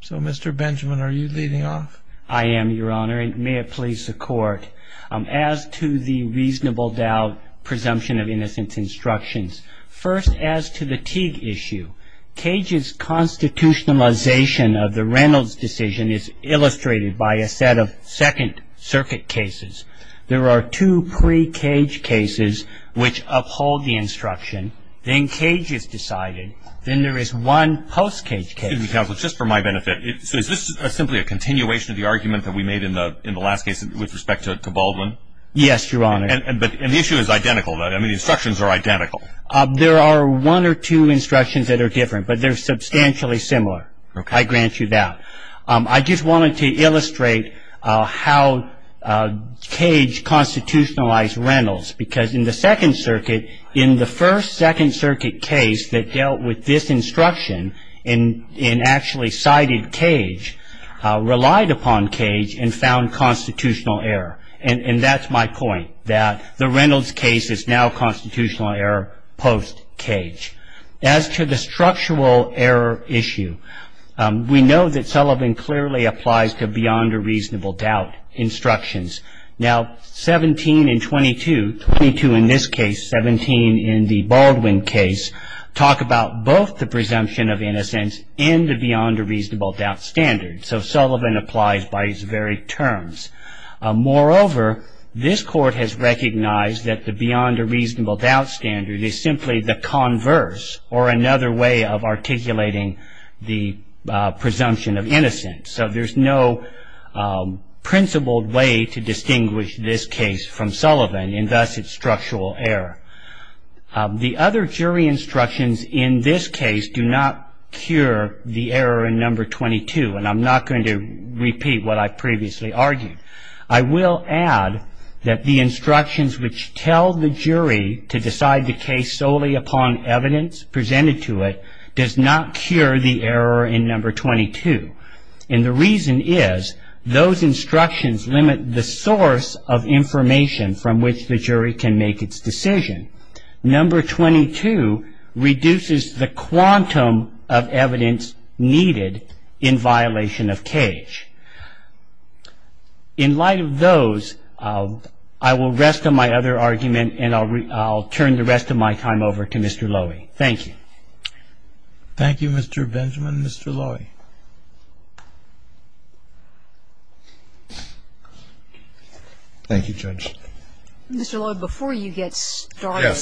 So, Mr. Benjamin, are you leading off? I am, Your Honor, and may it please the Court. As to the reasonable doubt presumption of innocence instructions, first as to the Teague issue, Cage's constitutionalization of the Reynolds decision is illustrated by a set of Second Circuit cases. There are two pre-Cage cases which uphold the instruction. Then Cage is decided. Then there is one post-Cage case. Excuse me, counsel, just for my benefit, so is this simply a continuation of the argument that we made in the last case with respect to Baldwin? Yes, Your Honor. And the issue is identical. I mean, the instructions are identical. There are one or two instructions that are different, but they're substantially similar. Okay. I grant you that. I just wanted to illustrate how Cage constitutionalized Reynolds, because in the Second Circuit, in the first Second Circuit case that dealt with this instruction and actually cited Cage, relied upon Cage and found constitutional error. And that's my point, that the Reynolds case is now constitutional error post-Cage. As to the structural error issue, we know that Sullivan clearly applies to beyond a reasonable doubt instructions. Now, 17 and 22, 22 in this case, 17 in the Baldwin case, talk about both the presumption of innocence and the beyond a reasonable doubt standard. So Sullivan applies by his very terms. Moreover, this Court has recognized that the beyond a reasonable doubt standard is simply the converse or another way of articulating the presumption of innocence. So there's no principled way to distinguish this case from Sullivan, and thus its structural error. The other jury instructions in this case do not cure the error in number 22. And I'm not going to repeat what I previously argued. I will add that the instructions which tell the jury to decide the case solely upon evidence presented to it does not cure the error in number 22. And the reason is those instructions limit the source of information from which the jury can make its decision. Number 22 reduces the quantum of evidence needed in violation of Cage. In light of those, I will rest on my other argument and I'll turn the rest of my time over to Mr. Lowy. Thank you. Thank you, Mr. Benjamin. Mr. Lowy. Thank you, Judge. Mr. Lowy, before you get started,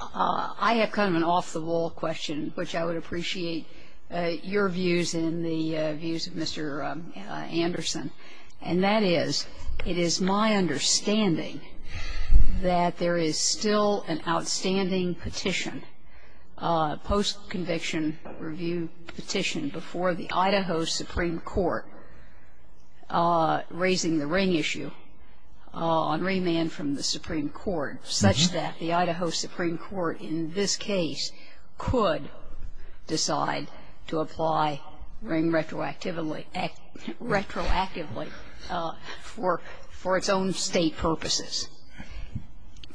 I have kind of an off-the-wall question, which I would appreciate your views and the views of Mr. Anderson. And that is, it is my understanding that there is still an outstanding petition, post-conviction review petition, before the Idaho Supreme Court raising the ring issue on remand from the Supreme Court such that the Idaho Supreme Court in this case could decide to apply ring retroactively for its own State purposes.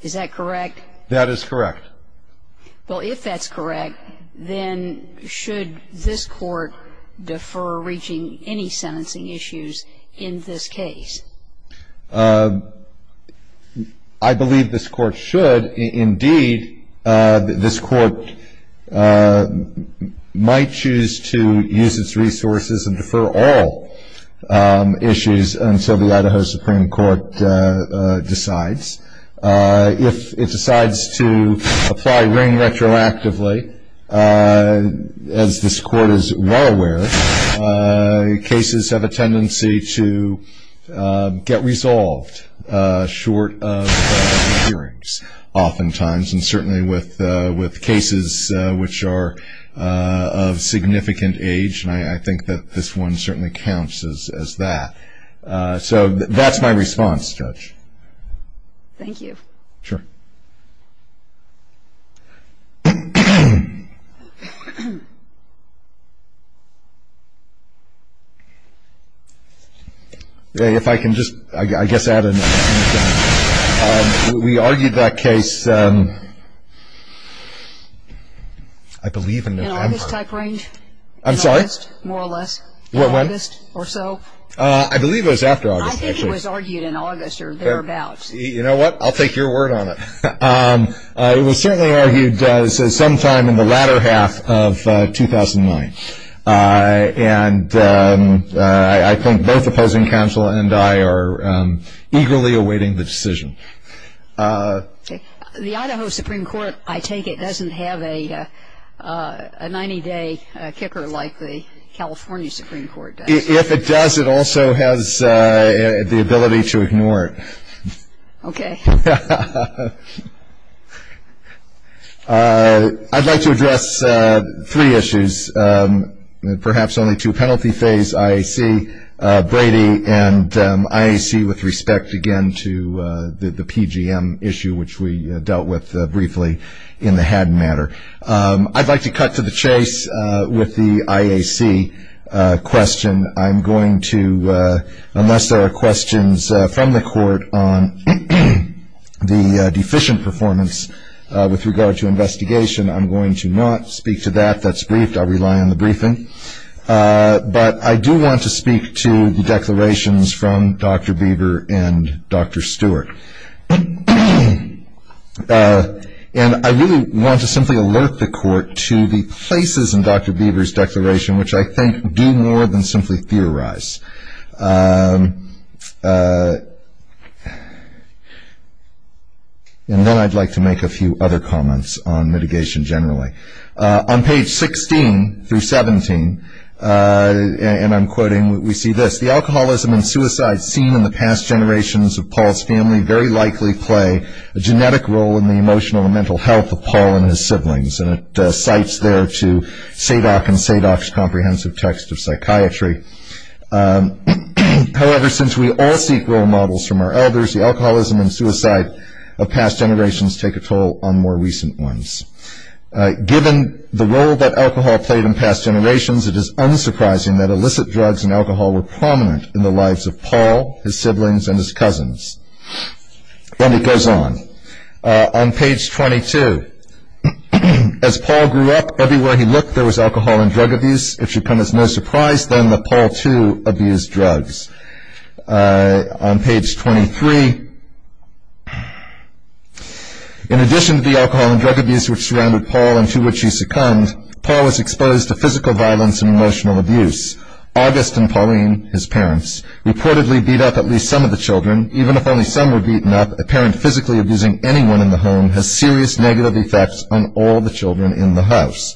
Is that correct? That is correct. Well, if that's correct, then should this Court defer reaching any sentencing issues in this case? I believe this Court should. Indeed, this Court might choose to use its resources and defer all issues until the Idaho Supreme Court decides. If it decides to apply ring retroactively, as this Court is well aware, cases have a tendency to get resolved short of hearings oftentimes, and certainly with cases which are of significant age. And I think that this one certainly counts as that. So that's my response, Judge. Thank you. Sure. If I can just, I guess, add a few comments. We argued that case, I believe, in the time frame. In August-type range? I'm sorry? In August, more or less? What, when? August or so? I believe it was after August. I think it was argued in August or thereabouts. You know what? I'll take your word on it. It was certainly argued sometime in the latter half of 2009, and I think both opposing counsel and I are eagerly awaiting the decision. The Idaho Supreme Court, I take it, doesn't have a 90-day kicker like the California Supreme Court does? If it does, it also has the ability to ignore it. Okay. I'd like to address three issues, perhaps only two. Penalty phase, IAC, Brady, and IAC with respect, again, to the PGM issue, which we dealt with briefly in the Haddon matter. I'd like to cut to the chase with the IAC question. I'm going to, unless there are questions from the court on the deficient performance with regard to investigation, I'm going to not speak to that. That's briefed. I rely on the briefing. But I do want to speak to the declarations from Dr. Beaver and Dr. Stewart. And I really want to simply alert the court to the places in Dr. Beaver's declaration, which I think do more than simply theorize. And then I'd like to make a few other comments on mitigation generally. On page 16 through 17, and I'm quoting, we see this. The alcoholism and suicide seen in the past generations of Paul's family very likely play a genetic role in the emotional and mental health of Paul and his siblings. And it cites there to Sadock and Sadock's comprehensive text of psychiatry. However, since we all seek role models from our elders, the alcoholism and suicide of past generations take a toll on more recent ones. Given the role that alcohol played in past generations, it is unsurprising that illicit drugs and alcohol were prominent in the lives of Paul, his siblings, and his cousins. Then it goes on. On page 22. As Paul grew up, everywhere he looked there was alcohol and drug abuse. It should come as no surprise then that Paul, too, abused drugs. On page 23. In addition to the alcohol and drug abuse which surrounded Paul and to which he succumbed, Paul was exposed to physical violence and emotional abuse. August and Pauline, his parents, reportedly beat up at least some of the children. In addition, even if only some were beaten up, a parent physically abusing anyone in the home has serious negative effects on all the children in the house.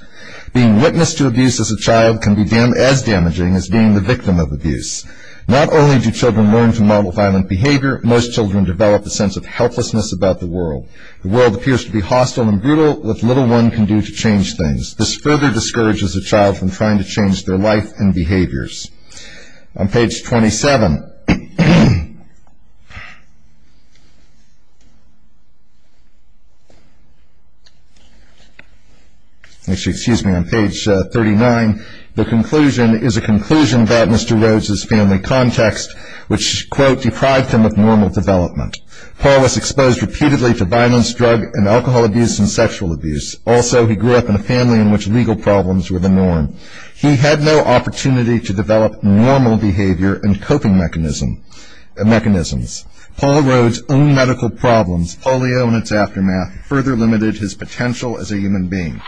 Being witness to abuse as a child can be as damaging as being the victim of abuse. Not only do children learn to model violent behavior, most children develop a sense of helplessness about the world. The world appears to be hostile and brutal, what little one can do to change things. This further discourages a child from trying to change their life and behaviors. On page 27. Actually, excuse me, on page 39. The conclusion is a conclusion about Mr. Rhodes' family context, which, quote, deprived him of normal development. Paul was exposed repeatedly to violence, drug and alcohol abuse and sexual abuse. Also, he grew up in a family in which legal problems were the norm. He had no opportunity to develop normal behavior and coping mechanisms. Paul Rhodes' own medical problems, polio and its aftermath, further limited his potential as a human being.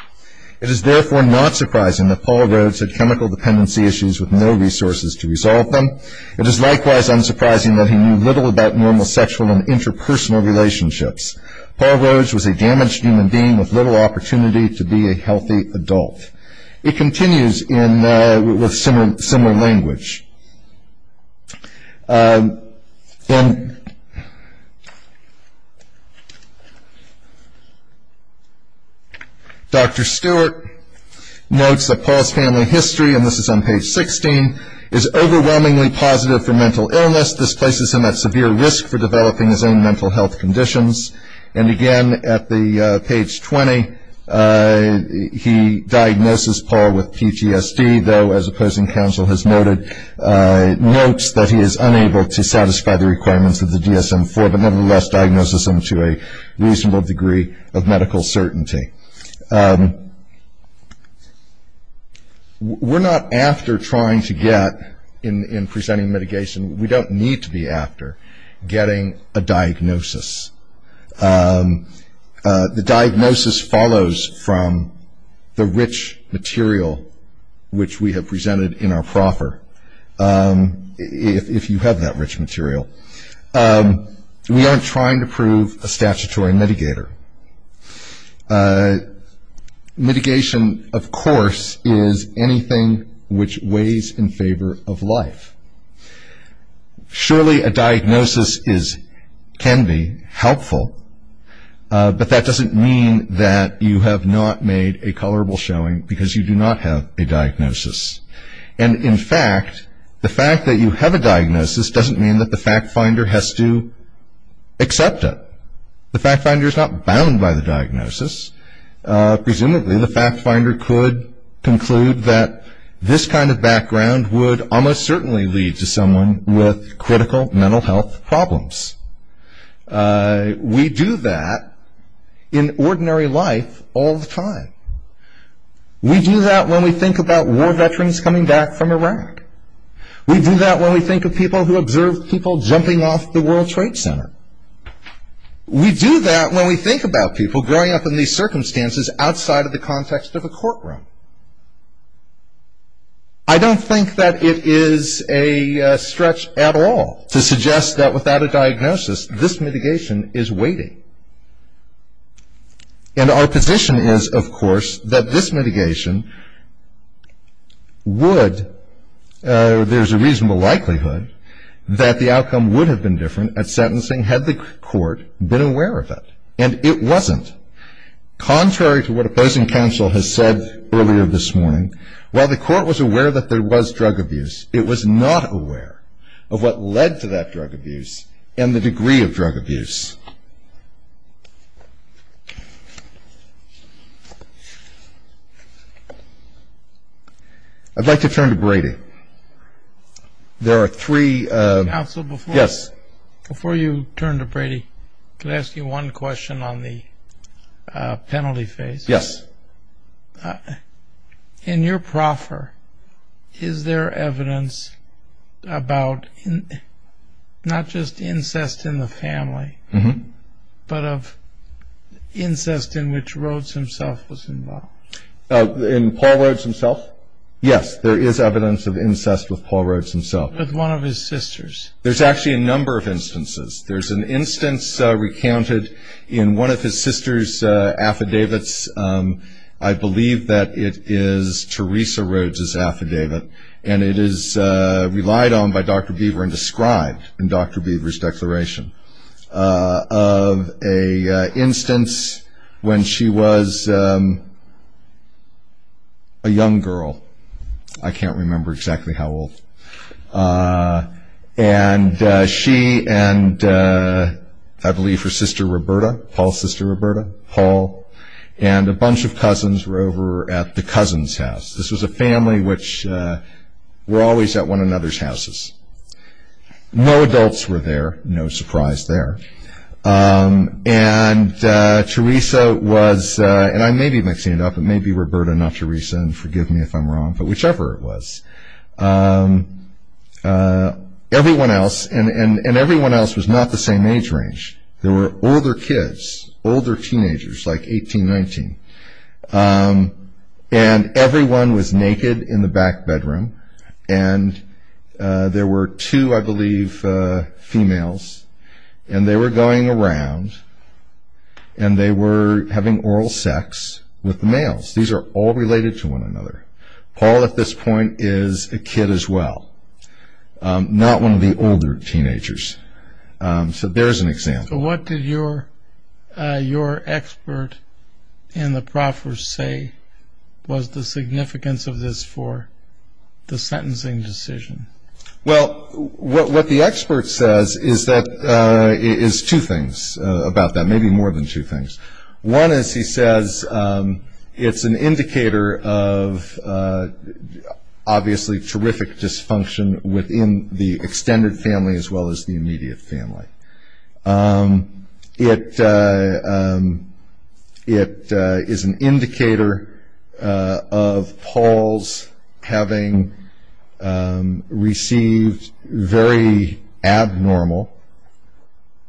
It is therefore not surprising that Paul Rhodes had chemical dependency issues with no resources to resolve them. It is likewise unsurprising that he knew little about normal sexual and interpersonal relationships. Paul Rhodes was a damaged human being with little opportunity to be a healthy adult. It continues with similar language. Dr. Stewart notes that Paul's family history, and this is on page 16, is overwhelmingly positive for mental illness. This places him at severe risk for developing his own mental health conditions. And, again, at page 20, he diagnoses Paul with PTSD, though, as opposing counsel has noted, notes that he is unable to satisfy the requirements of the DSM-IV, but nevertheless diagnoses him to a reasonable degree of medical certainty. We're not after trying to get, in presenting mitigation, we don't need to be after getting a diagnosis. The diagnosis follows from the rich material which we have presented in our proffer, if you have that rich material. We aren't trying to prove a statutory mitigator. Mitigation, of course, is anything which weighs in favor of life. Surely, a diagnosis can be helpful, but that doesn't mean that you have not made a colorable showing, because you do not have a diagnosis. And, in fact, the fact that you have a diagnosis doesn't mean that the fact finder has to accept it. The fact finder is not bound by the diagnosis. Presumably, the fact finder could conclude that this kind of background would almost certainly lead to someone with critical mental health problems. We do that in ordinary life all the time. We do that when we think about war veterans coming back from Iraq. We do that when we think of people who observe people jumping off the World Trade Center. We do that when we think about people growing up in these circumstances outside of the context of a courtroom. I don't think that it is a stretch at all to suggest that without a diagnosis, this mitigation is weighty. And our position is, of course, that this mitigation would, there's a reasonable likelihood that the outcome would have been different at sentencing had the court been aware of it, and it wasn't. Contrary to what opposing counsel has said earlier this morning, while the court was aware that there was drug abuse, it was not aware of what led to that drug abuse and the degree of drug abuse. I'd like to turn to Brady. There are three. Counsel, before you turn to Brady, could I ask you one question on the penalty phase? Yes. In your proffer, is there evidence about not just incest in the family, but of incest in which Rhodes himself was involved? In Paul Rhodes himself? Yes, there is evidence of incest with Paul Rhodes himself. With one of his sisters? There's actually a number of instances. There's an instance recounted in one of his sister's affidavits. I believe that it is Theresa Rhodes' affidavit, and it is relied on by Dr. Beaver and described in Dr. Beaver's declaration, of an instance when she was a young girl. I can't remember exactly how old. She and I believe her sister Roberta, Paul's sister Roberta, and a bunch of cousins were over at the cousins' house. This was a family which were always at one another's houses. No adults were there, no surprise there. Theresa was, and I may be mixing it up, but maybe Roberta, not Theresa, and forgive me if I'm wrong, but whichever it was. Everyone else, and everyone else was not the same age range. There were older kids, older teenagers, like 18, 19, and everyone was naked in the back bedroom, and there were two, I believe, females, and they were going around and they were having oral sex with the males. These are all related to one another. Paul, at this point, is a kid as well, not one of the older teenagers. So there's an example. So what did your expert in the proffers say was the significance of this for the sentencing decision? Well, what the expert says is two things about that, maybe more than two things. One is he says it's an indicator of obviously terrific dysfunction within the extended family as well as the immediate family. It is an indicator of Paul's having received very abnormal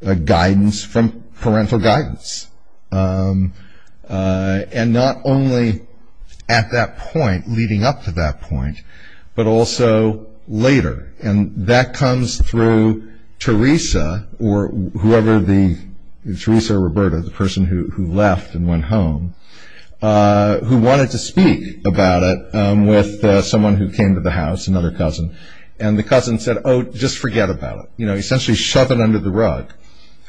guidance from parental guidance, and not only at that point, leading up to that point, but also later, and that comes through Teresa or whoever, Teresa or Roberta, the person who left and went home, who wanted to speak about it with someone who came to the house, another cousin, and the cousin said, oh, just forget about it. You know, essentially shove it under the rug,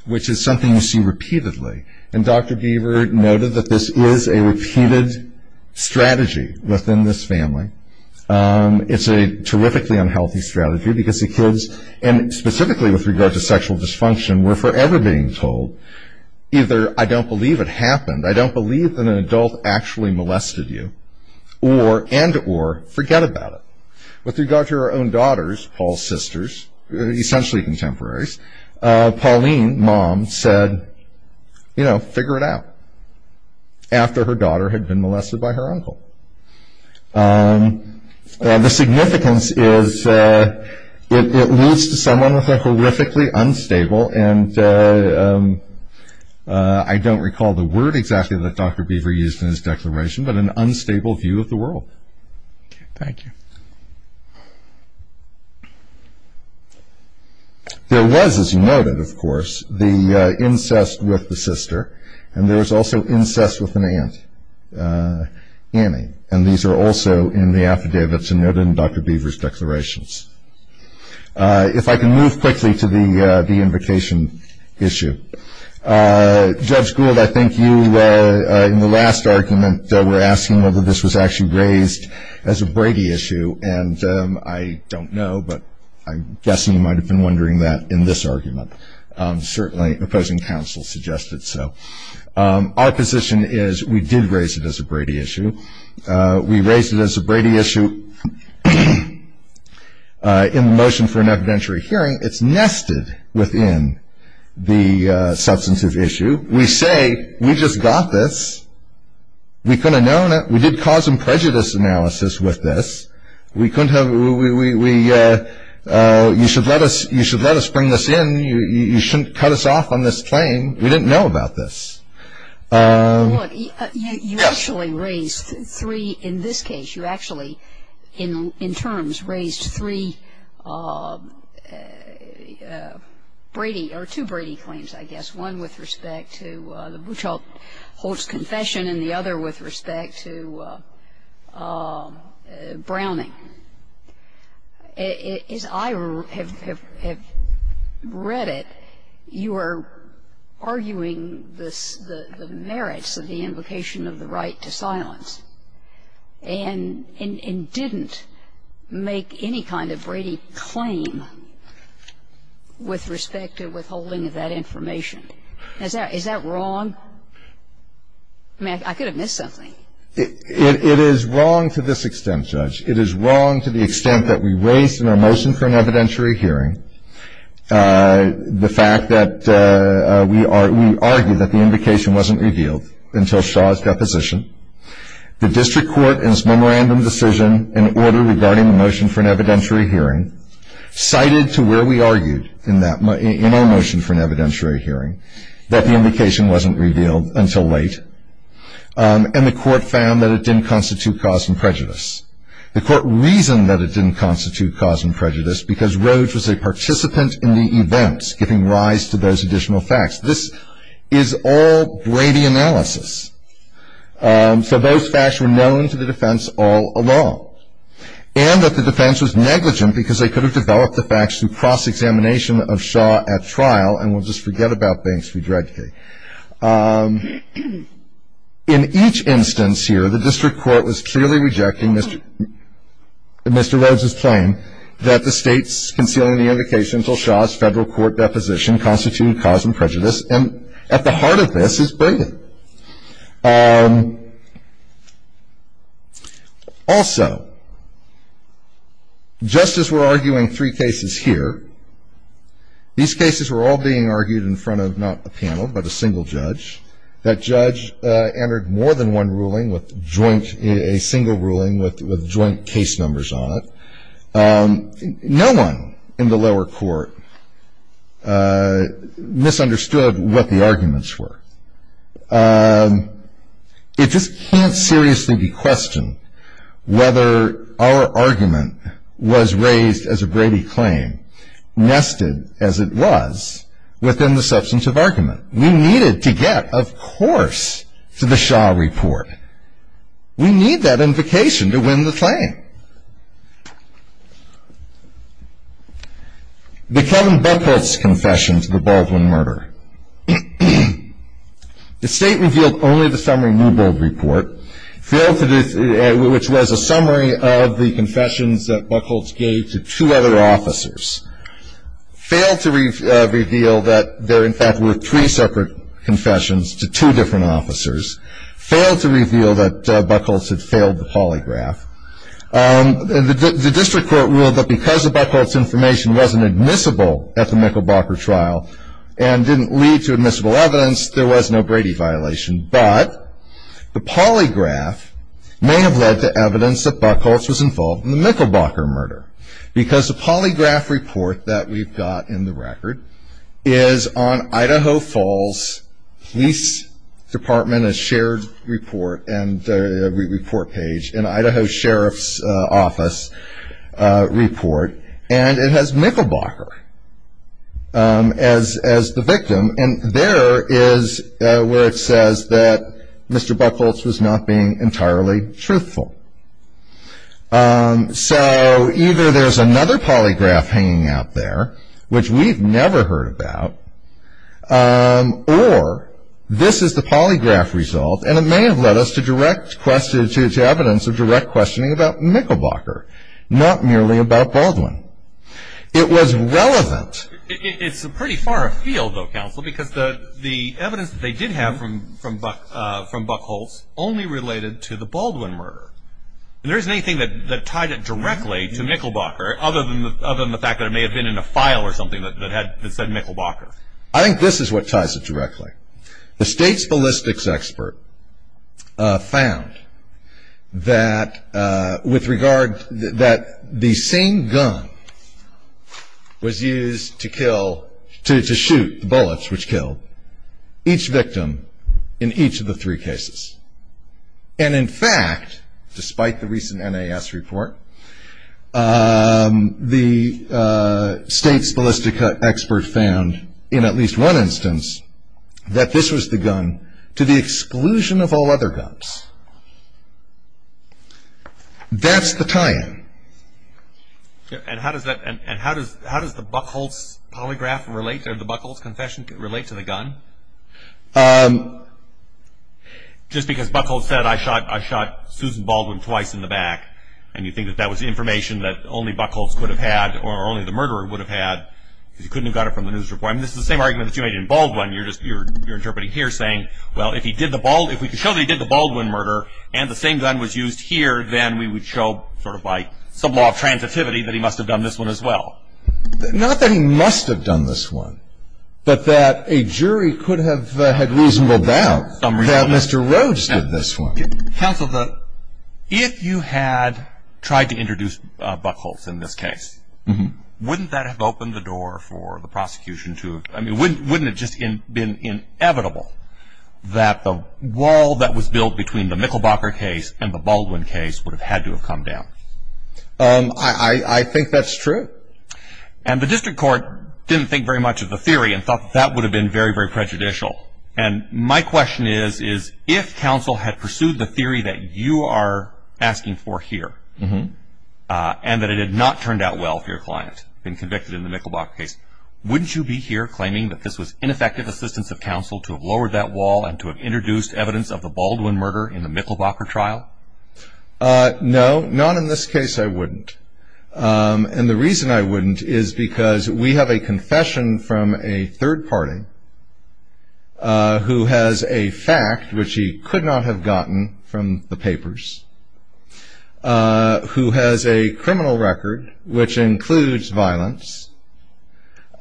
which is something you see repeatedly, and Dr. Geaver noted that this is a repeated strategy within this family. It's a terrifically unhealthy strategy because the kids, and specifically with regard to sexual dysfunction, were forever being told, either I don't believe it happened, I don't believe that an adult actually molested you, or, and or, forget about it. With regard to our own daughters, Paul's sisters, essentially contemporaries, Pauline, mom, said, you know, figure it out, after her daughter had been molested by her uncle. The significance is it leads to someone with a horrifically unstable, and I don't recall the word exactly that Dr. Beaver used in his declaration, but an unstable view of the world. Thank you. There was, as you noted, of course, the incest with the sister, and there was also incest with an aunt, Annie, and these are also in the affidavits noted in Dr. Beaver's declarations. If I can move quickly to the invocation issue. Judge Gould, I think you, in the last argument, were asking whether this was actually raised as a Brady issue, and I don't know, but I'm guessing you might have been wondering that in this argument. Certainly, opposing counsel suggested so. Our position is we did raise it as a Brady issue. We raised it as a Brady issue in the motion for an evidentiary hearing. It's nested within the substantive issue. We say we just got this. We could have known it. We did cause and prejudice analysis with this. We couldn't have, we, you should let us bring this in. You shouldn't cut us off on this claim. We didn't know about this. Look, you actually raised three, in this case, you actually, in terms, raised three Brady, or two Brady claims, I guess, one with respect to the Buchholz confession and the other with respect to Browning. As I have read it, you are arguing the merits of the invocation of the right to silence and didn't make any kind of Brady claim with respect to withholding of that information. Is that wrong? I mean, I could have missed something. It is wrong to this extent, Judge. It is wrong to the extent that we raised in our motion for an evidentiary hearing the fact that we argued that the invocation wasn't revealed until Shaw's deposition the district court in its memorandum decision in order regarding the motion for an evidentiary hearing cited to where we argued in our motion for an evidentiary hearing that the invocation wasn't revealed until late and the court found that it didn't constitute cause and prejudice. The court reasoned that it didn't constitute cause and prejudice because Roge was a participant in the events giving rise to those additional facts. This is all Brady analysis. So those facts were known to the defense all along. And that the defense was negligent because they could have developed the facts through cross-examination of Shaw at trial, and we'll just forget about Banks v. Dredke. In each instance here, the district court was clearly rejecting Mr. Roge's claim that the state's concealing the invocation until Shaw's federal court deposition didn't constitute cause and prejudice, and at the heart of this is Brady. Also, just as we're arguing three cases here, these cases were all being argued in front of not a panel but a single judge. That judge entered more than one ruling with joint, a single ruling with joint case numbers on it. No one in the lower court misunderstood what the arguments were. It just can't seriously be questioned whether our argument was raised as a Brady claim nested as it was within the substance of argument. We needed to get, of course, to the Shaw report. We need that invocation to win the claim. The Kevin Buchholz confession to the Baldwin murder. The state revealed only the summary Newbold report, which was a summary of the confessions that Buchholz gave to two other officers. Failed to reveal that there in fact were three separate confessions to two different officers. Failed to reveal that Buchholz had failed the polygraph. The district court ruled that because the Buchholz information wasn't admissible at the Mickelbocker trial and didn't lead to admissible evidence, there was no Brady violation. But the polygraph may have led to evidence that Buchholz was involved in the Mickelbocker murder because the polygraph report that we've got in the record is on Idaho Falls Police Department, a shared report and report page in Idaho Sheriff's Office report, and it has Mickelbocker as the victim. And there is where it says that Mr. Buchholz was not being entirely truthful. So either there's another polygraph hanging out there, which we've never heard about, or this is the polygraph result and it may have led us to direct question, to evidence of direct questioning about Mickelbocker, not merely about Baldwin. It was relevant. It's pretty far afield, though, counsel, because the evidence that they did have from Buchholz only related to the Baldwin murder. And there isn't anything that tied it directly to Mickelbocker, other than the fact that it may have been in a file or something that said Mickelbocker. I think this is what ties it directly. The state's ballistics expert found that the same gun was used to shoot the bullets, which killed each victim in each of the three cases. And in fact, despite the recent NAS report, the state's ballistics expert found, in at least one instance, that this was the gun to the exclusion of all other guns. That's the tie-in. And how does the Buchholz polygraph relate, or the Buchholz confession relate to the gun? Just because Buchholz said I shot Susan Baldwin twice in the back, and you think that that was information that only Buchholz could have had, or only the murderer would have had, because he couldn't have got it from the news report. I mean, this is the same argument that you made in Baldwin. You're interpreting here saying, well, if we could show that he did the Baldwin murder, and the same gun was used here, then we would show sort of by some law of transitivity that he must have done this one as well. Not that he must have done this one, but that a jury could have had reasonable doubt that Mr. Rhodes did this one. Counsel, if you had tried to introduce Buchholz in this case, wouldn't that have opened the door for the prosecution to – I mean, wouldn't it just have been inevitable that the wall that was built between the Mickelbocker case and the Baldwin case would have had to have come down? I think that's true. And the district court didn't think very much of the theory and thought that that would have been very, very prejudicial. And my question is, is if counsel had pursued the theory that you are asking for here, and that it had not turned out well for your client, been convicted in the Mickelbocker case, wouldn't you be here claiming that this was ineffective assistance of counsel to have lowered that wall and to have introduced evidence of the Baldwin murder in the Mickelbocker trial? No, not in this case I wouldn't. And the reason I wouldn't is because we have a confession from a third party who has a fact which he could not have gotten from the papers, who has a criminal record which includes violence,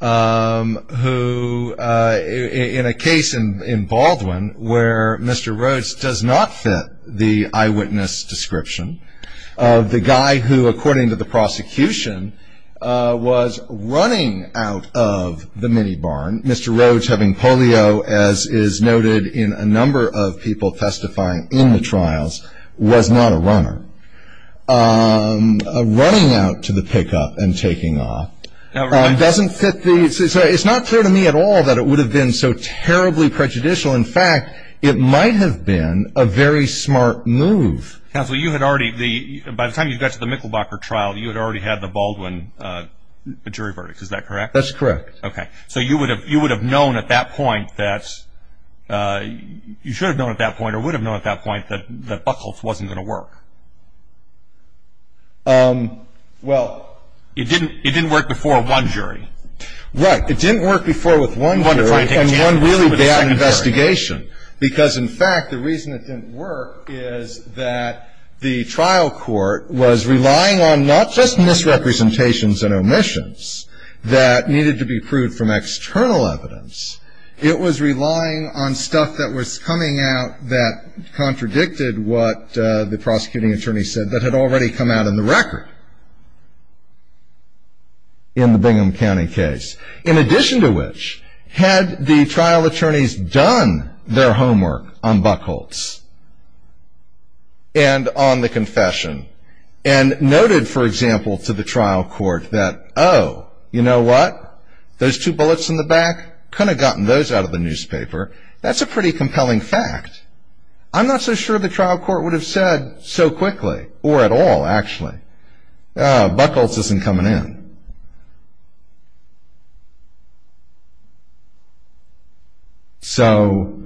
who in a case in Baldwin where Mr. Rhodes does not fit the eyewitness description, the guy who, according to the prosecution, was running out of the mini barn, Mr. Rhodes having polio, as is noted in a number of people testifying in the trials, was not a runner. Running out to the pickup and taking off doesn't fit the, it's not clear to me at all that it would have been so terribly prejudicial. In fact, it might have been a very smart move. Counsel, you had already, by the time you got to the Mickelbocker trial, you had already had the Baldwin jury verdict, is that correct? That's correct. Okay. So you would have known at that point that, you should have known at that point or would have known at that point that Buchholz wasn't going to work. Well. It didn't work before one jury. Right. It didn't work before with one jury and one really bad investigation. Because, in fact, the reason it didn't work is that the trial court was relying on not just misrepresentations and omissions that needed to be proved from external evidence. It was relying on stuff that was coming out that contradicted what the prosecuting attorney said that had already come out in the record in the Bingham County case. In addition to which, had the trial attorneys done their homework on Buchholz and on the confession and noted, for example, to the trial court that, oh, you know what? Those two bullets in the back? Couldn't have gotten those out of the newspaper. That's a pretty compelling fact. I'm not so sure the trial court would have said so quickly or at all, actually. Oh, Buchholz isn't coming in. So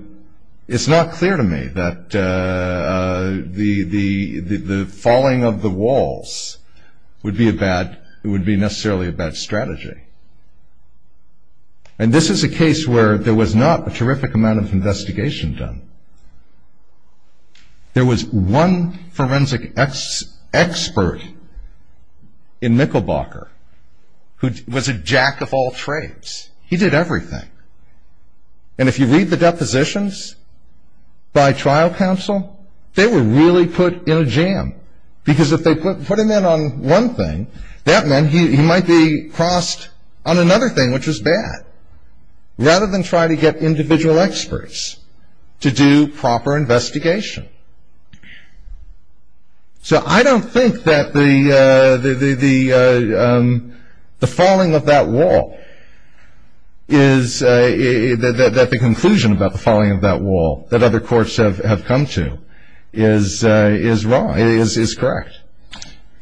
it's not clear to me that the falling of the walls would be necessarily a bad strategy. And this is a case where there was not a terrific amount of investigation done. There was one forensic expert in Mickelbocker who was a jack of all trades. He did everything. And if you read the depositions by trial counsel, they were really put in a jam. Because if they put him in on one thing, that meant he might be crossed on another thing, which was bad. Rather than try to get individual experts to do proper investigation. So I don't think that the falling of that wall is the conclusion about the falling of that wall that other courts have come to is wrong, is correct.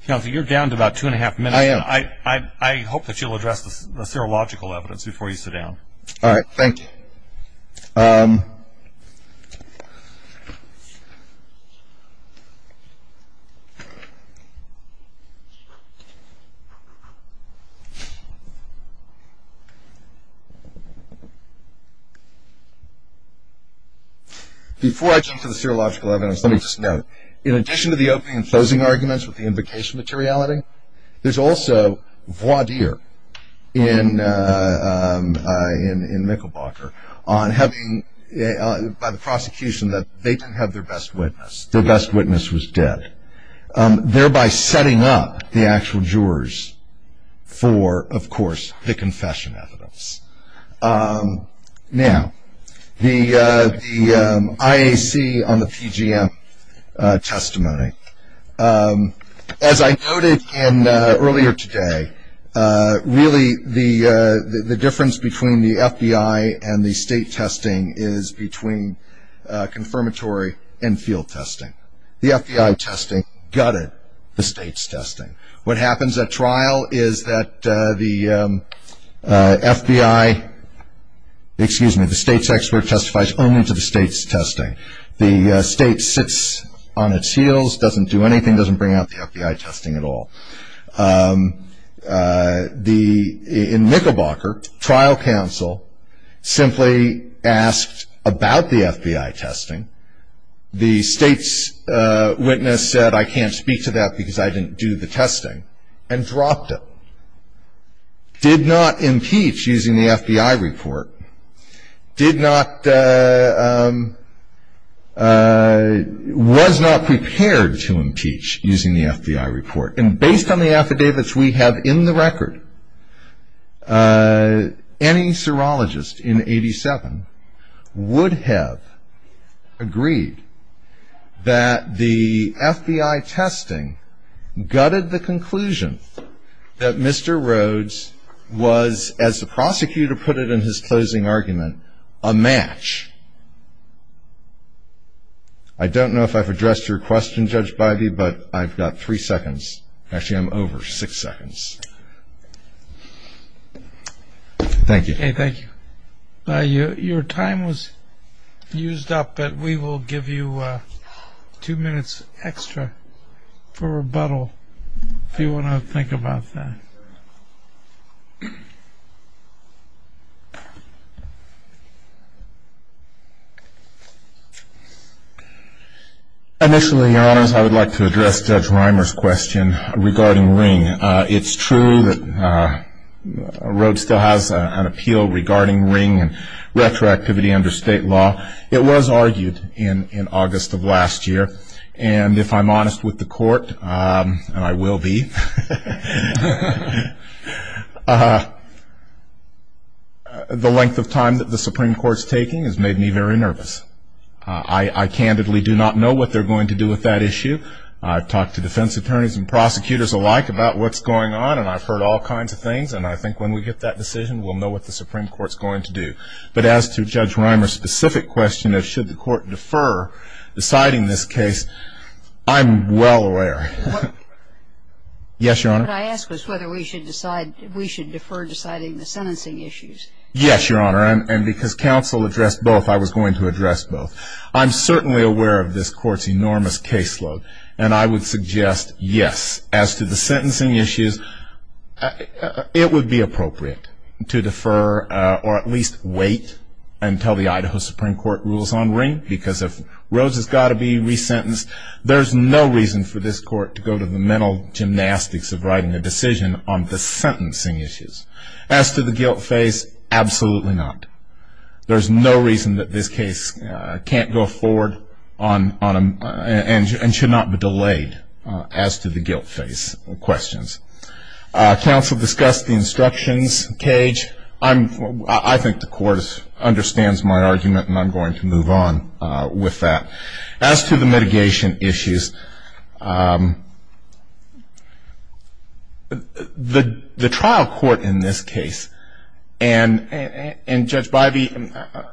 Counsel, you're down to about two and a half minutes. I am. I hope that you'll address the serological evidence before you sit down. All right, thank you. Before I jump to the serological evidence, let me just note, in addition to the opening and closing arguments with the invocation materiality, there's also voir dire in Mickelbocker by the prosecution that they didn't have their best witness. Their best witness was dead. Thereby setting up the actual jurors for, of course, the confession evidence. Now, the IAC on the PGM testimony. As I noted earlier today, really the difference between the FBI and the state testing is between confirmatory and field testing. The FBI testing gutted the state's testing. What happens at trial is that the FBI, excuse me, the state's expert testifies only to the state's testing. The state sits on its heels, doesn't do anything, doesn't bring out the FBI testing at all. In Mickelbocker, trial counsel simply asked about the FBI testing. The state's witness said, I can't speak to that because I didn't do the testing, and dropped it. Did not impeach using the FBI report. Did not, was not prepared to impeach using the FBI report. And based on the affidavits we have in the record, any serologist in 87 would have agreed that the FBI testing gutted the conclusion that Mr. Rhodes was, as the prosecutor put it in his closing argument, a match. I don't know if I've addressed your question, Judge Biby, but I've got three seconds. Actually, I'm over six seconds. Thank you. Okay, thank you. Your time was used up, but we will give you two minutes extra for rebuttal, if you want to think about that. Initially, Your Honors, I would like to address Judge Reimer's question regarding Ring. It's true that Rhodes still has an appeal regarding Ring and retroactivity under state law. It was argued in August of last year. And if I'm honest with the Court, and I will be, the length of time that the Supreme Court's taking has made me very nervous. I candidly do not know what they're going to do with that issue. I've talked to defense attorneys and prosecutors alike about what's going on, and I've heard all kinds of things, and I think when we get that decision, we'll know what the Supreme Court's going to do. But as to Judge Reimer's specific question of should the Court defer deciding this case, I'm well aware. Yes, Your Honor? Could I ask whether we should defer deciding the sentencing issues? Yes, Your Honor, and because counsel addressed both, I was going to address both. I'm certainly aware of this Court's enormous caseload, and I would suggest yes. As to the sentencing issues, it would be appropriate to defer or at least wait until the Idaho Supreme Court rules on Ring, because if Rhodes has got to be resentenced, there's no reason for this Court to go to the mental gymnastics of writing a decision on the sentencing issues. As to the guilt phase, absolutely not. There's no reason that this case can't go forward and should not be delayed as to the guilt phase questions. Counsel discussed the instructions, Cage. I think the Court understands my argument, and I'm going to move on with that. As to the mitigation issues, the trial court in this case and Judge Bivey,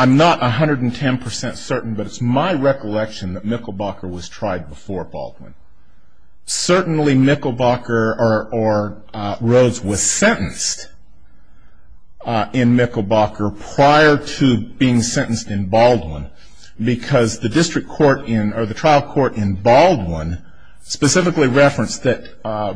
I'm not 110% certain, but it's my recollection that Mikkelbacher was tried before Baldwin. Certainly Mikkelbacher or Rhodes was sentenced in Mikkelbacher prior to being sentenced in Baldwin, because the trial court in Baldwin specifically referenced that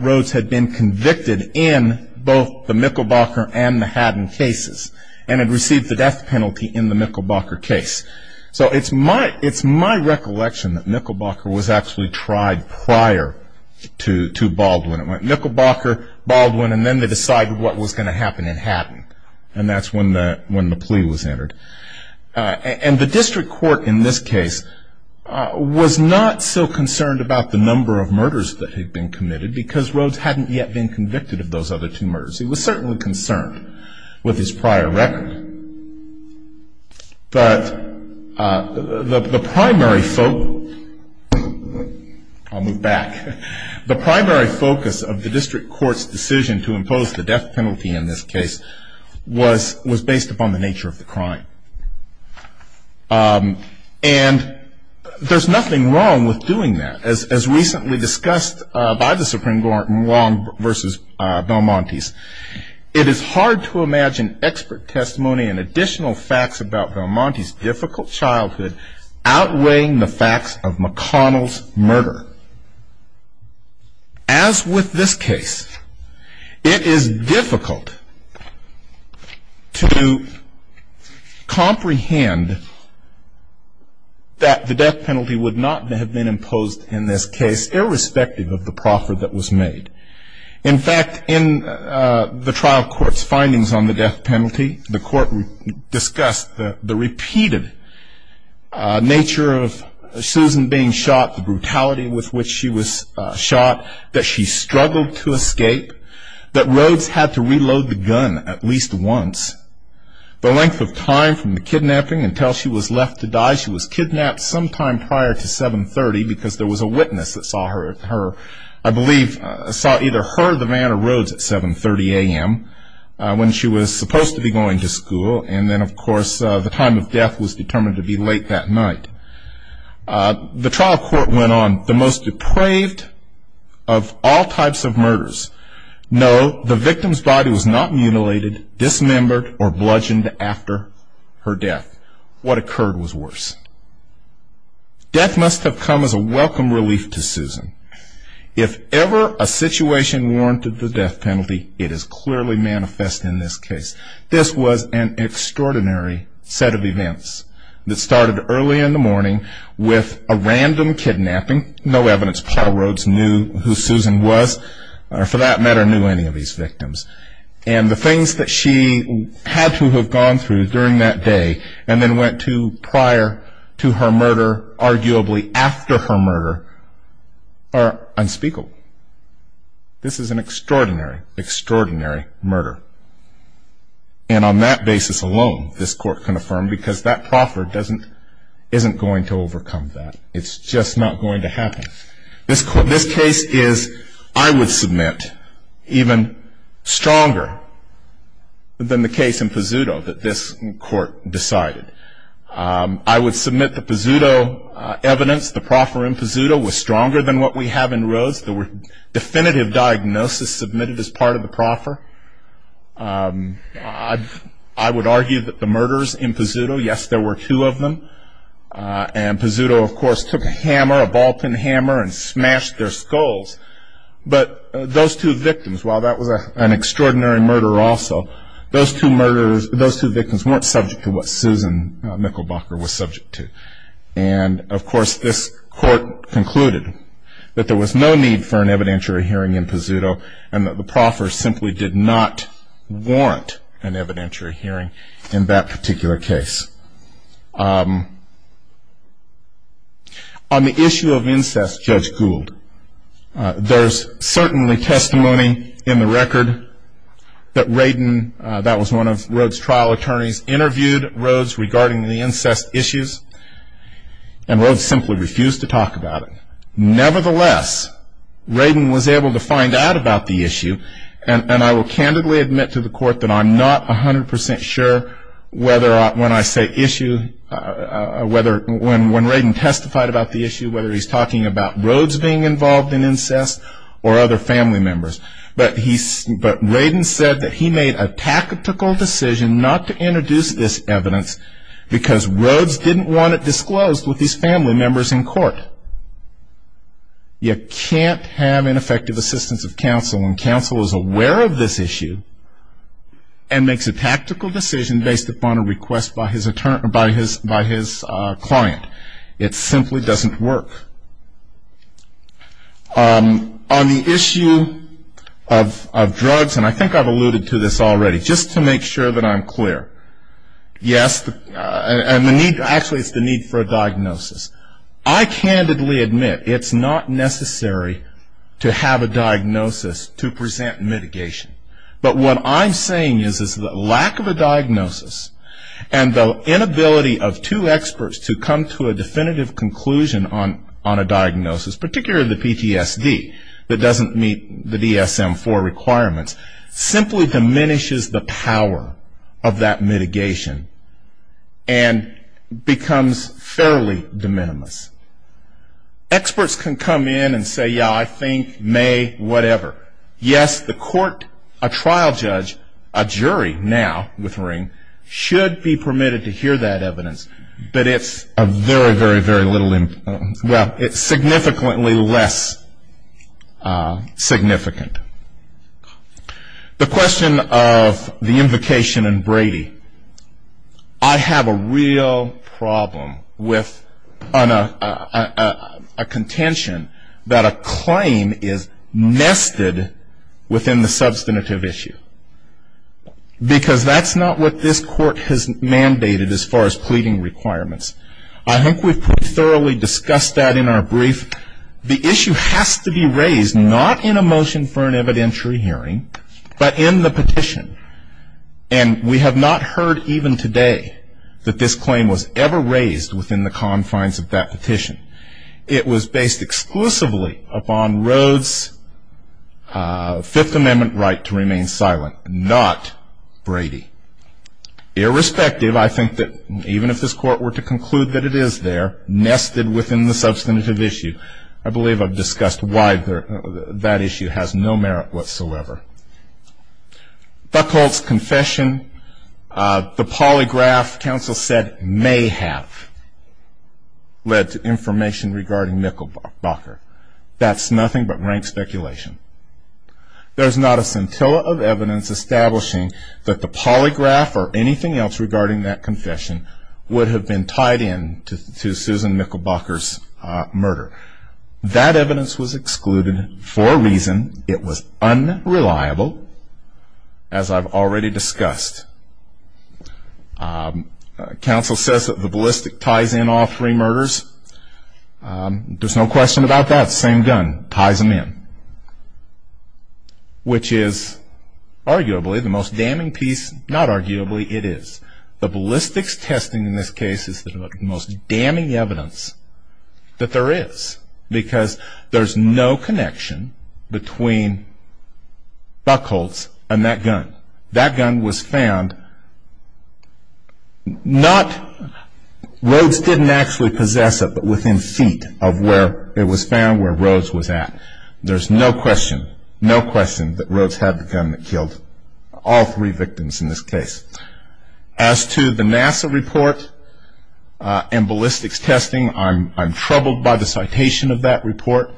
Rhodes had been convicted in both the Mikkelbacher and the Haddon cases, and had received the death penalty in the Mikkelbacher case. So it's my recollection that Mikkelbacher was actually tried prior to Baldwin. It went Mikkelbacher, Baldwin, and then they decided what was going to happen in Haddon, and that's when the plea was entered. And the district court in this case was not so concerned about the number of murders that had been committed, because Rhodes hadn't yet been convicted of those other two murders. He was certainly concerned with his prior record. But the primary focus, I'll move back, the primary focus of the district court's decision to impose the death penalty in this case was based upon the nature of the crime. And there's nothing wrong with doing that. As recently discussed by the Supreme Court in Long v. Belmonte's, it is hard to imagine expert testimony and additional facts about Belmonte's difficult childhood outweighing the facts of McConnell's murder. As with this case, it is difficult to comprehend that the death penalty would not have been imposed in this case, irrespective of the proffer that was made. In fact, in the trial court's findings on the death penalty, the court discussed the repeated nature of Susan being shot, the brutality with which she was shot, that she struggled to escape, that Rhodes had to reload the gun at least once. The length of time from the kidnapping until she was left to die, she was kidnapped sometime prior to 7.30, because there was a witness that saw her, I believe, saw either her, the man, or Rhodes at 7.30 a.m. when she was supposed to be going to school. And then, of course, the time of death was determined to be late that night. The trial court went on, the most depraved of all types of murders. No, the victim's body was not mutilated, dismembered, or bludgeoned after her death. What occurred was worse. Death must have come as a welcome relief to Susan. If ever a situation warranted the death penalty, it is clearly manifest in this case. This was an extraordinary set of events that started early in the morning with a random kidnapping. No evidence Paul Rhodes knew who Susan was, or for that matter, knew any of these victims. And the things that she had to have gone through during that day, and then went to prior to her murder, or arguably after her murder, are unspeakable. This is an extraordinary, extraordinary murder. And on that basis alone, this court can affirm, because that proffer isn't going to overcome that. It's just not going to happen. This case is, I would submit, even stronger than the case in Pizzuto that this court decided. I would submit the Pizzuto evidence. The proffer in Pizzuto was stronger than what we have in Rhodes. There were definitive diagnoses submitted as part of the proffer. I would argue that the murders in Pizzuto, yes, there were two of them. And Pizzuto, of course, took a hammer, a ball-pin hammer, and smashed their skulls. But those two victims, while that was an extraordinary murder also, those two victims weren't subject to what Susan Michelbacher was subject to. And, of course, this court concluded that there was no need for an evidentiary hearing in Pizzuto, and that the proffer simply did not warrant an evidentiary hearing in that particular case. On the issue of incest, Judge Gould, there's certainly testimony in the record that Radin, that was one of Rhodes' trial attorneys, interviewed Rhodes regarding the incest issues, and Rhodes simply refused to talk about it. Nevertheless, Radin was able to find out about the issue, and I will candidly admit to the court that I'm not 100 percent sure whether when I say issue, whether when Radin testified about the issue, whether he's talking about Rhodes being involved in incest or other family members. But Radin said that he made a tactical decision not to introduce this evidence because Rhodes didn't want it disclosed with his family members in court. You can't have ineffective assistance of counsel when counsel is aware of this issue and makes a tactical decision based upon a request by his client. It simply doesn't work. On the issue of drugs, and I think I've alluded to this already, just to make sure that I'm clear. Yes, and the need, actually it's the need for a diagnosis. I candidly admit it's not necessary to have a diagnosis to present mitigation. But what I'm saying is that lack of a diagnosis, and the inability of two experts to come to a definitive conclusion on a diagnosis, particularly the PTSD that doesn't meet the DSM-IV requirements, simply diminishes the power of that mitigation and becomes fairly de minimis. Experts can come in and say, yeah, I think, may, whatever. Yes, the court, a trial judge, a jury now with Ring, should be permitted to hear that evidence. But it's a very, very, very little, well, it's significantly less significant. The question of the invocation in Brady, I have a real problem with a contention that a claim is nested within the substantive issue. Because that's not what this court has mandated as far as pleading requirements. I think we've thoroughly discussed that in our brief. The issue has to be raised, not in a motion for an evidentiary hearing, but in the petition. And we have not heard even today that this claim was ever raised within the confines of that petition. It was based exclusively upon Rhodes' Fifth Amendment right to remain silent, not Brady. Irrespective, I think that even if this court were to conclude that it is there, nested within the substantive issue, I believe I've discussed why that issue has no merit whatsoever. Buckholtz' confession, the polygraph, counsel said, may have led to information regarding Mikkelbacher. That's nothing but rank speculation. There's not a scintilla of evidence establishing that the polygraph or anything else regarding that confession would have been tied in to Susan Mikkelbacher's murder. That evidence was excluded for a reason. It was unreliable, as I've already discussed. Counsel says that the ballistic ties in all three murders. There's no question about that. Same gun. Ties them in. Which is arguably the most damning piece, not arguably, it is. The ballistics testing in this case is the most damning evidence that there is, because there's no connection between Buckholtz and that gun. That gun was found not, Rhodes didn't actually possess it, but within feet of where it was found where Rhodes was at. There's no question, no question that Rhodes had the gun that killed all three victims in this case. As to the NASA report and ballistics testing, I'm troubled by the citation of that report.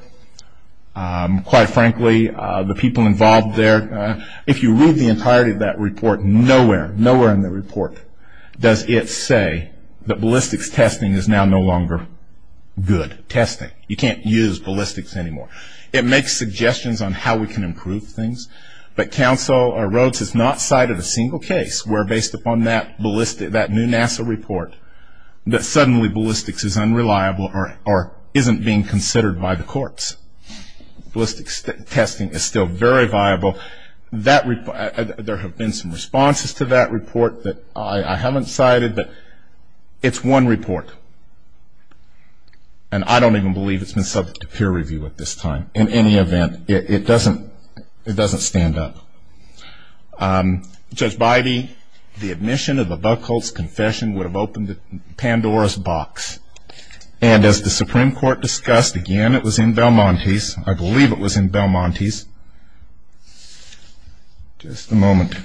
Quite frankly, the people involved there, if you read the entirety of that report, nowhere, nowhere in the report does it say that ballistics testing is now no longer good testing. You can't use ballistics anymore. It makes suggestions on how we can improve things, but Rhodes has not cited a single case where, based upon that new NASA report, that suddenly ballistics is unreliable or isn't being considered by the courts. Ballistics testing is still very viable. There have been some responses to that report that I haven't cited, but it's one report, and I don't even believe it's been subject to peer review at this time. In any event, it doesn't stand up. Judge Bybee, the admission of the Buchholz confession would have opened Pandora's box, and as the Supreme Court discussed again, it was in Belmontese. I believe it was in Belmontese. Just a moment.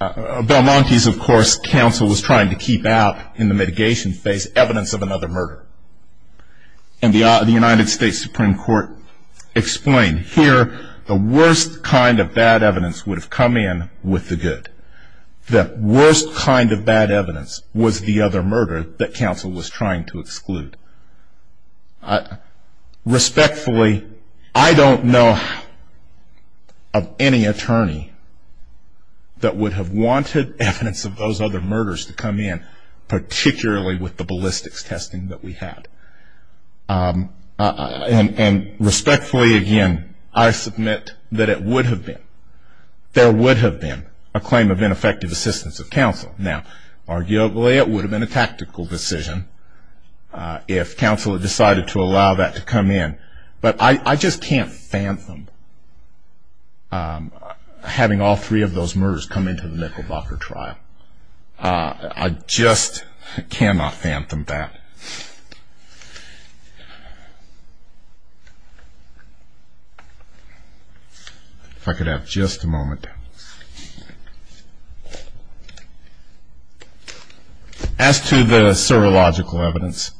Belmontese, of course, counsel was trying to keep out in the mitigation phase evidence of another murder, and the United States Supreme Court explained, here the worst kind of bad evidence would have come in with the good. The worst kind of bad evidence was the other murder that counsel was trying to exclude. Respectfully, I don't know of any attorney that would have wanted evidence of those other murders to come in, particularly with the ballistics testing that we had. And respectfully, again, I submit that it would have been. There would have been a claim of ineffective assistance of counsel. Now, arguably it would have been a tactical decision if counsel had decided to allow that to come in, but I just can't fathom having all three of those murders come into the Mecklenbacher trial. I just cannot fathom that. If I could have just a moment. As to the serological evidence,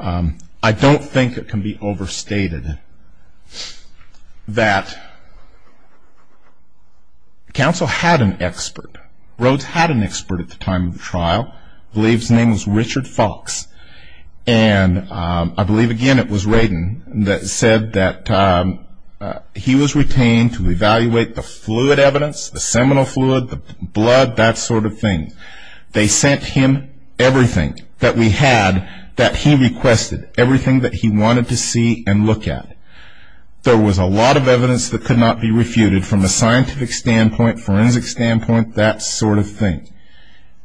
I don't think it can be overstated that counsel had an expert. Rhodes had an expert at the time of the trial, I believe his name was Richard Fox, and I believe, again, it was Radin that said that he was retained to evaluate the fluid evidence, the seminal fluid, the blood, that sort of thing. They sent him everything that we had that he requested, everything that he wanted to see and look at. There was a lot of evidence that could not be refuted from a scientific standpoint, forensic standpoint, that sort of thing.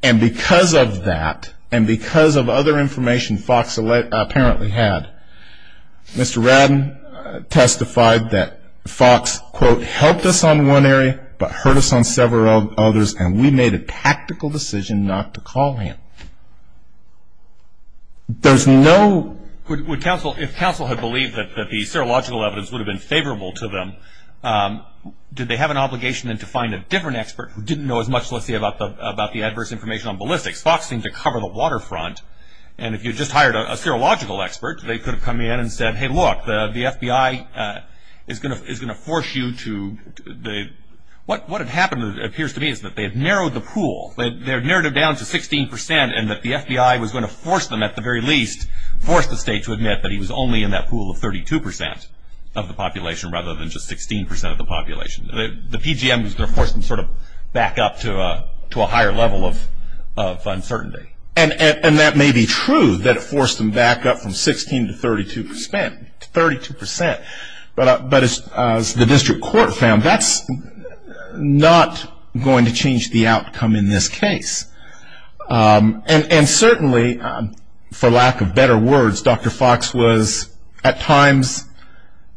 And because of that, and because of other information Fox apparently had, Mr. Radin testified that Fox, quote, helped us on one area but hurt us on several others and we made a tactical decision not to call him. There's no... If counsel had believed that the serological evidence would have been favorable to them, did they have an obligation then to find a different expert who didn't know as much, let's say, about the adverse information on ballistics? Fox seemed to cover the waterfront, and if you just hired a serological expert, they could have come in and said, hey, look, the FBI is going to force you to... What had happened, it appears to me, is that they had narrowed the pool. They had narrowed it down to 16% and that the FBI was going to force them, at the very least, force the state to admit that he was only in that pool of 32% of the population rather than just 16% of the population. The PGM was going to force them sort of back up to a higher level of uncertainty. And that may be true, that it forced them back up from 16% to 32%. But as the district court found, that's not going to change the outcome in this case. And certainly, for lack of better words, Dr. Fox was at times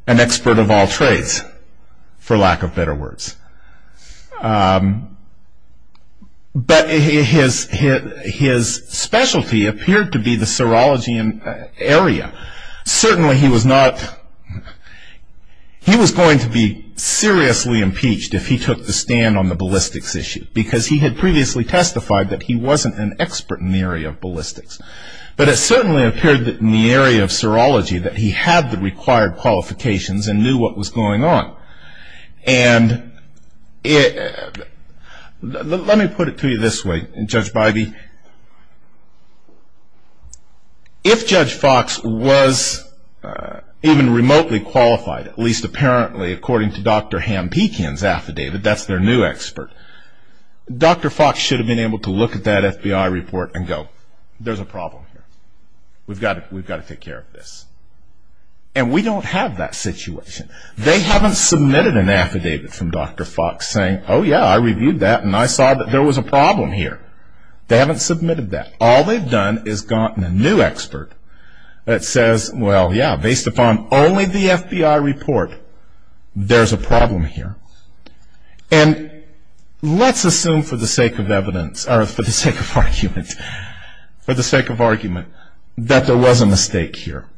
an expert of all trades, for lack of better words. But his specialty appeared to be the serology area. Certainly he was not... He was going to be seriously impeached if he took the stand on the ballistics issue because he had previously testified that he wasn't an expert in the area of ballistics. But it certainly appeared that in the area of serology that he had the required qualifications and knew what was going on. Let me put it to you this way, Judge Bybee. If Judge Fox was even remotely qualified, at least apparently according to Dr. Hampikian's affidavit, that's their new expert, Dr. Fox should have been able to look at that FBI report and go, there's a problem here, we've got to take care of this. And we don't have that situation. They haven't submitted an affidavit from Dr. Fox saying, oh yeah, I reviewed that and I saw that there was a problem here. They haven't submitted that. All they've done is gotten a new expert that says, well yeah, based upon only the FBI report, there's a problem here. And let's assume for the sake of argument that there was a mistake here.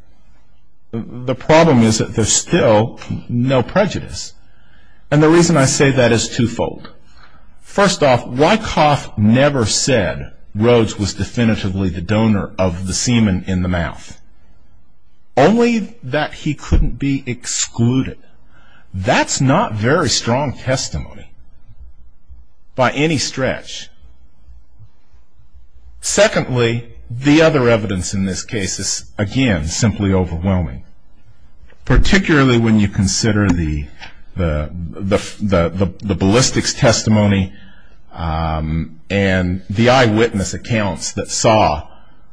The problem is that there's still no prejudice. And the reason I say that is twofold. First off, Wyckoff never said Rhodes was definitively the donor of the semen in the mouth. Only that he couldn't be excluded. That's not very strong testimony by any stretch. Secondly, the other evidence in this case is, again, simply overwhelming. Particularly when you consider the ballistics testimony and the eyewitness accounts that saw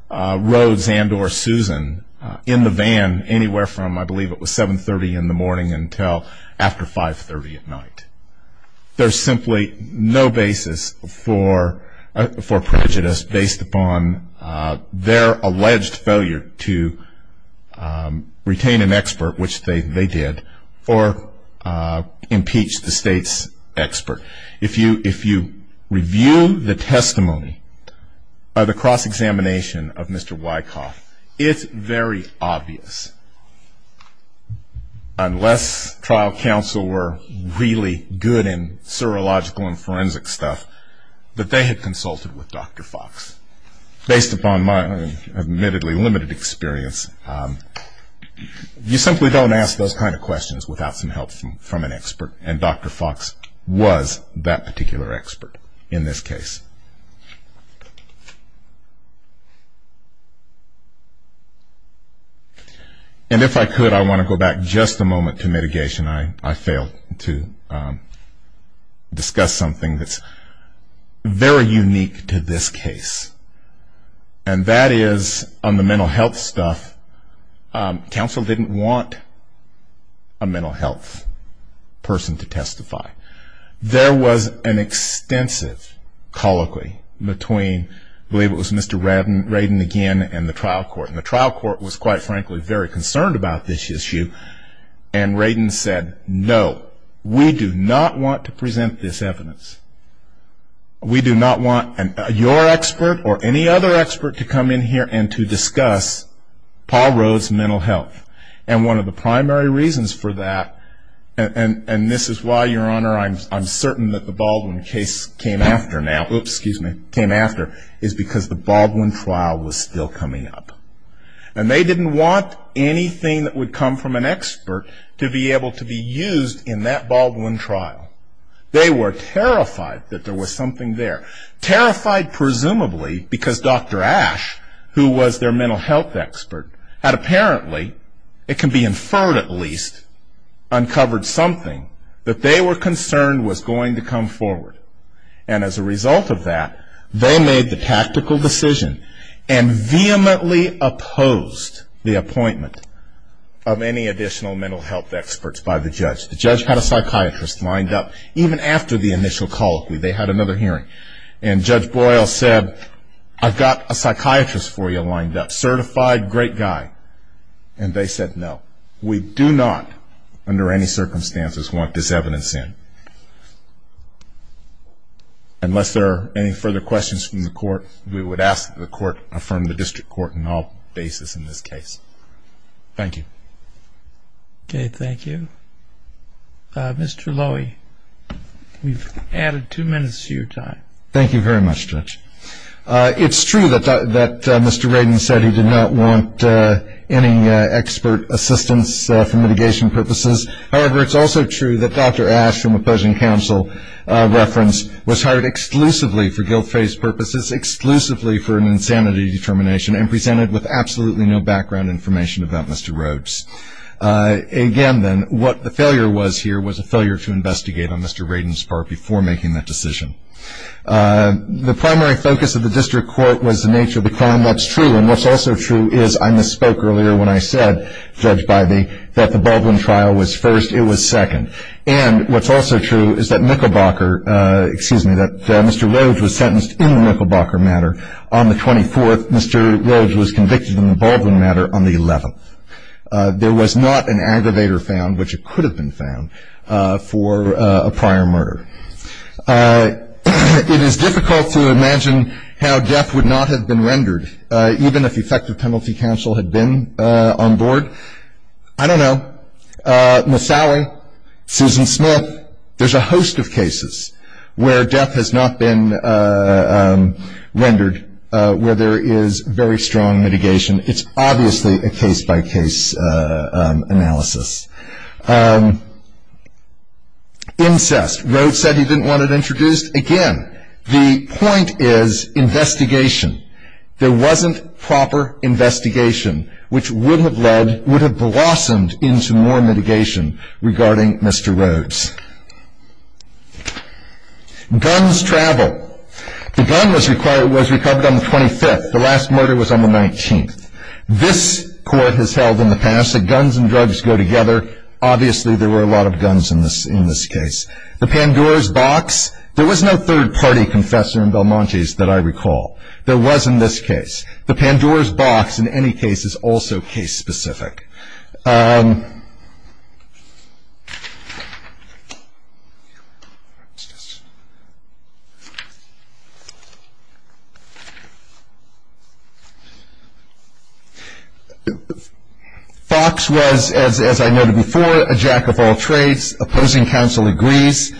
Rhodes and or Susan in the van anywhere from, I believe it was 7.30 in the morning until after 5.30 at night. There's simply no basis for prejudice based upon their alleged failure to retain an expert, which they did, or impeach the state's expert. If you review the testimony by the cross-examination of Mr. Wyckoff, it's very obvious, unless trial counsel were really good in serological and forensic stuff, that they had consulted with Dr. Fox. Based upon my admittedly limited experience, you simply don't ask those kind of questions without some help from an expert. And Dr. Fox was that particular expert in this case. And if I could, I want to go back just a moment to mitigation. I failed to discuss something that's very unique to this case. And that is on the mental health stuff, counsel didn't want a mental health person to testify. There was an extensive colloquy between, I believe it was Mr. Radin again and the trial court. And the trial court was quite frankly very concerned about this issue. And Radin said, no, we do not want to present this evidence. We do not want your expert or any other expert to come in here and to discuss Paul Rhoades' mental health. And one of the primary reasons for that, and this is why, Your Honor, I'm certain that the Baldwin case came after now, oops, excuse me, came after, is because the Baldwin trial was still coming up. And they didn't want anything that would come from an expert to be able to be used in that Baldwin trial. They were terrified that there was something there. Terrified presumably because Dr. Ash, who was their mental health expert, had apparently, it can be inferred at least, uncovered something that they were concerned was going to come forward. And as a result of that, they made the tactical decision and vehemently opposed the appointment of any additional mental health experts by the judge. The judge had a psychiatrist lined up even after the initial colloquy. They had another hearing. And Judge Boyle said, I've got a psychiatrist for you lined up, certified great guy. And they said no. We do not under any circumstances want this evidence in. Unless there are any further questions from the court, we would ask that the court affirm the district court in all cases in this case. Thank you. Okay, thank you. Mr. Lowy, we've added two minutes to your time. Thank you very much, Judge. It's true that Mr. Radin said he did not want any expert assistance for mitigation purposes. However, it's also true that Dr. Ash, from opposing counsel reference, was hired exclusively for guilt-faced purposes, exclusively for an insanity determination, and presented with absolutely no background information about Mr. Rhodes. Again, then, what the failure was here was a failure to investigate on Mr. Radin's part before making that decision. The primary focus of the district court was the nature of the crime. That's true. And what's also true is I misspoke earlier when I said, Judge Bybee, that the Baldwin trial was first. It was second. And what's also true is that Micklebocker, excuse me, that Mr. Rhodes was sentenced in the Micklebocker matter. On the 24th, Mr. Rhodes was convicted in the Baldwin matter on the 11th. There was not an aggravator found, which it could have been found, for a prior murder. It is difficult to imagine how death would not have been rendered, even if effective penalty counsel had been on board. I don't know. Misali, Susan Smith, there's a host of cases where death has not been rendered, where there is very strong mitigation. It's obviously a case-by-case analysis. Incest, Rhodes said he didn't want it introduced. Again, the point is investigation. There wasn't proper investigation, which would have blossomed into more mitigation regarding Mr. Rhodes. Guns travel. The gun was recovered on the 25th. The last murder was on the 19th. This court has held in the past that guns and drugs go together. Obviously, there were a lot of guns in this case. The Pandora's box, there was no third-party confessor in Belmonte's that I recall. There was in this case. The Pandora's box, in any case, is also case-specific. Fox was, as I noted before, a jack-of-all-trades. Opposing counsel agrees.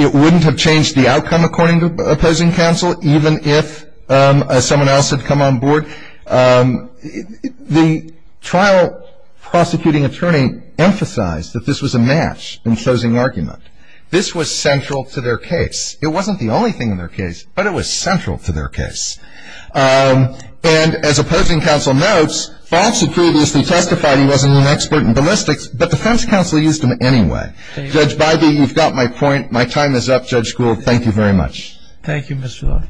It wouldn't have changed the outcome, according to opposing counsel, even if someone else had come on board. The trial prosecuting attorney emphasized that this was a match in choosing argument. This was central to their case. It wasn't the only thing in their case, but it was central to their case. And as opposing counsel notes, Fox had previously testified he wasn't an expert in ballistics, but the defense counsel used him anyway. Judge Bybee, you've got my point. My time is up. Judge Gould, thank you very much. Thank you, Mr. Lord.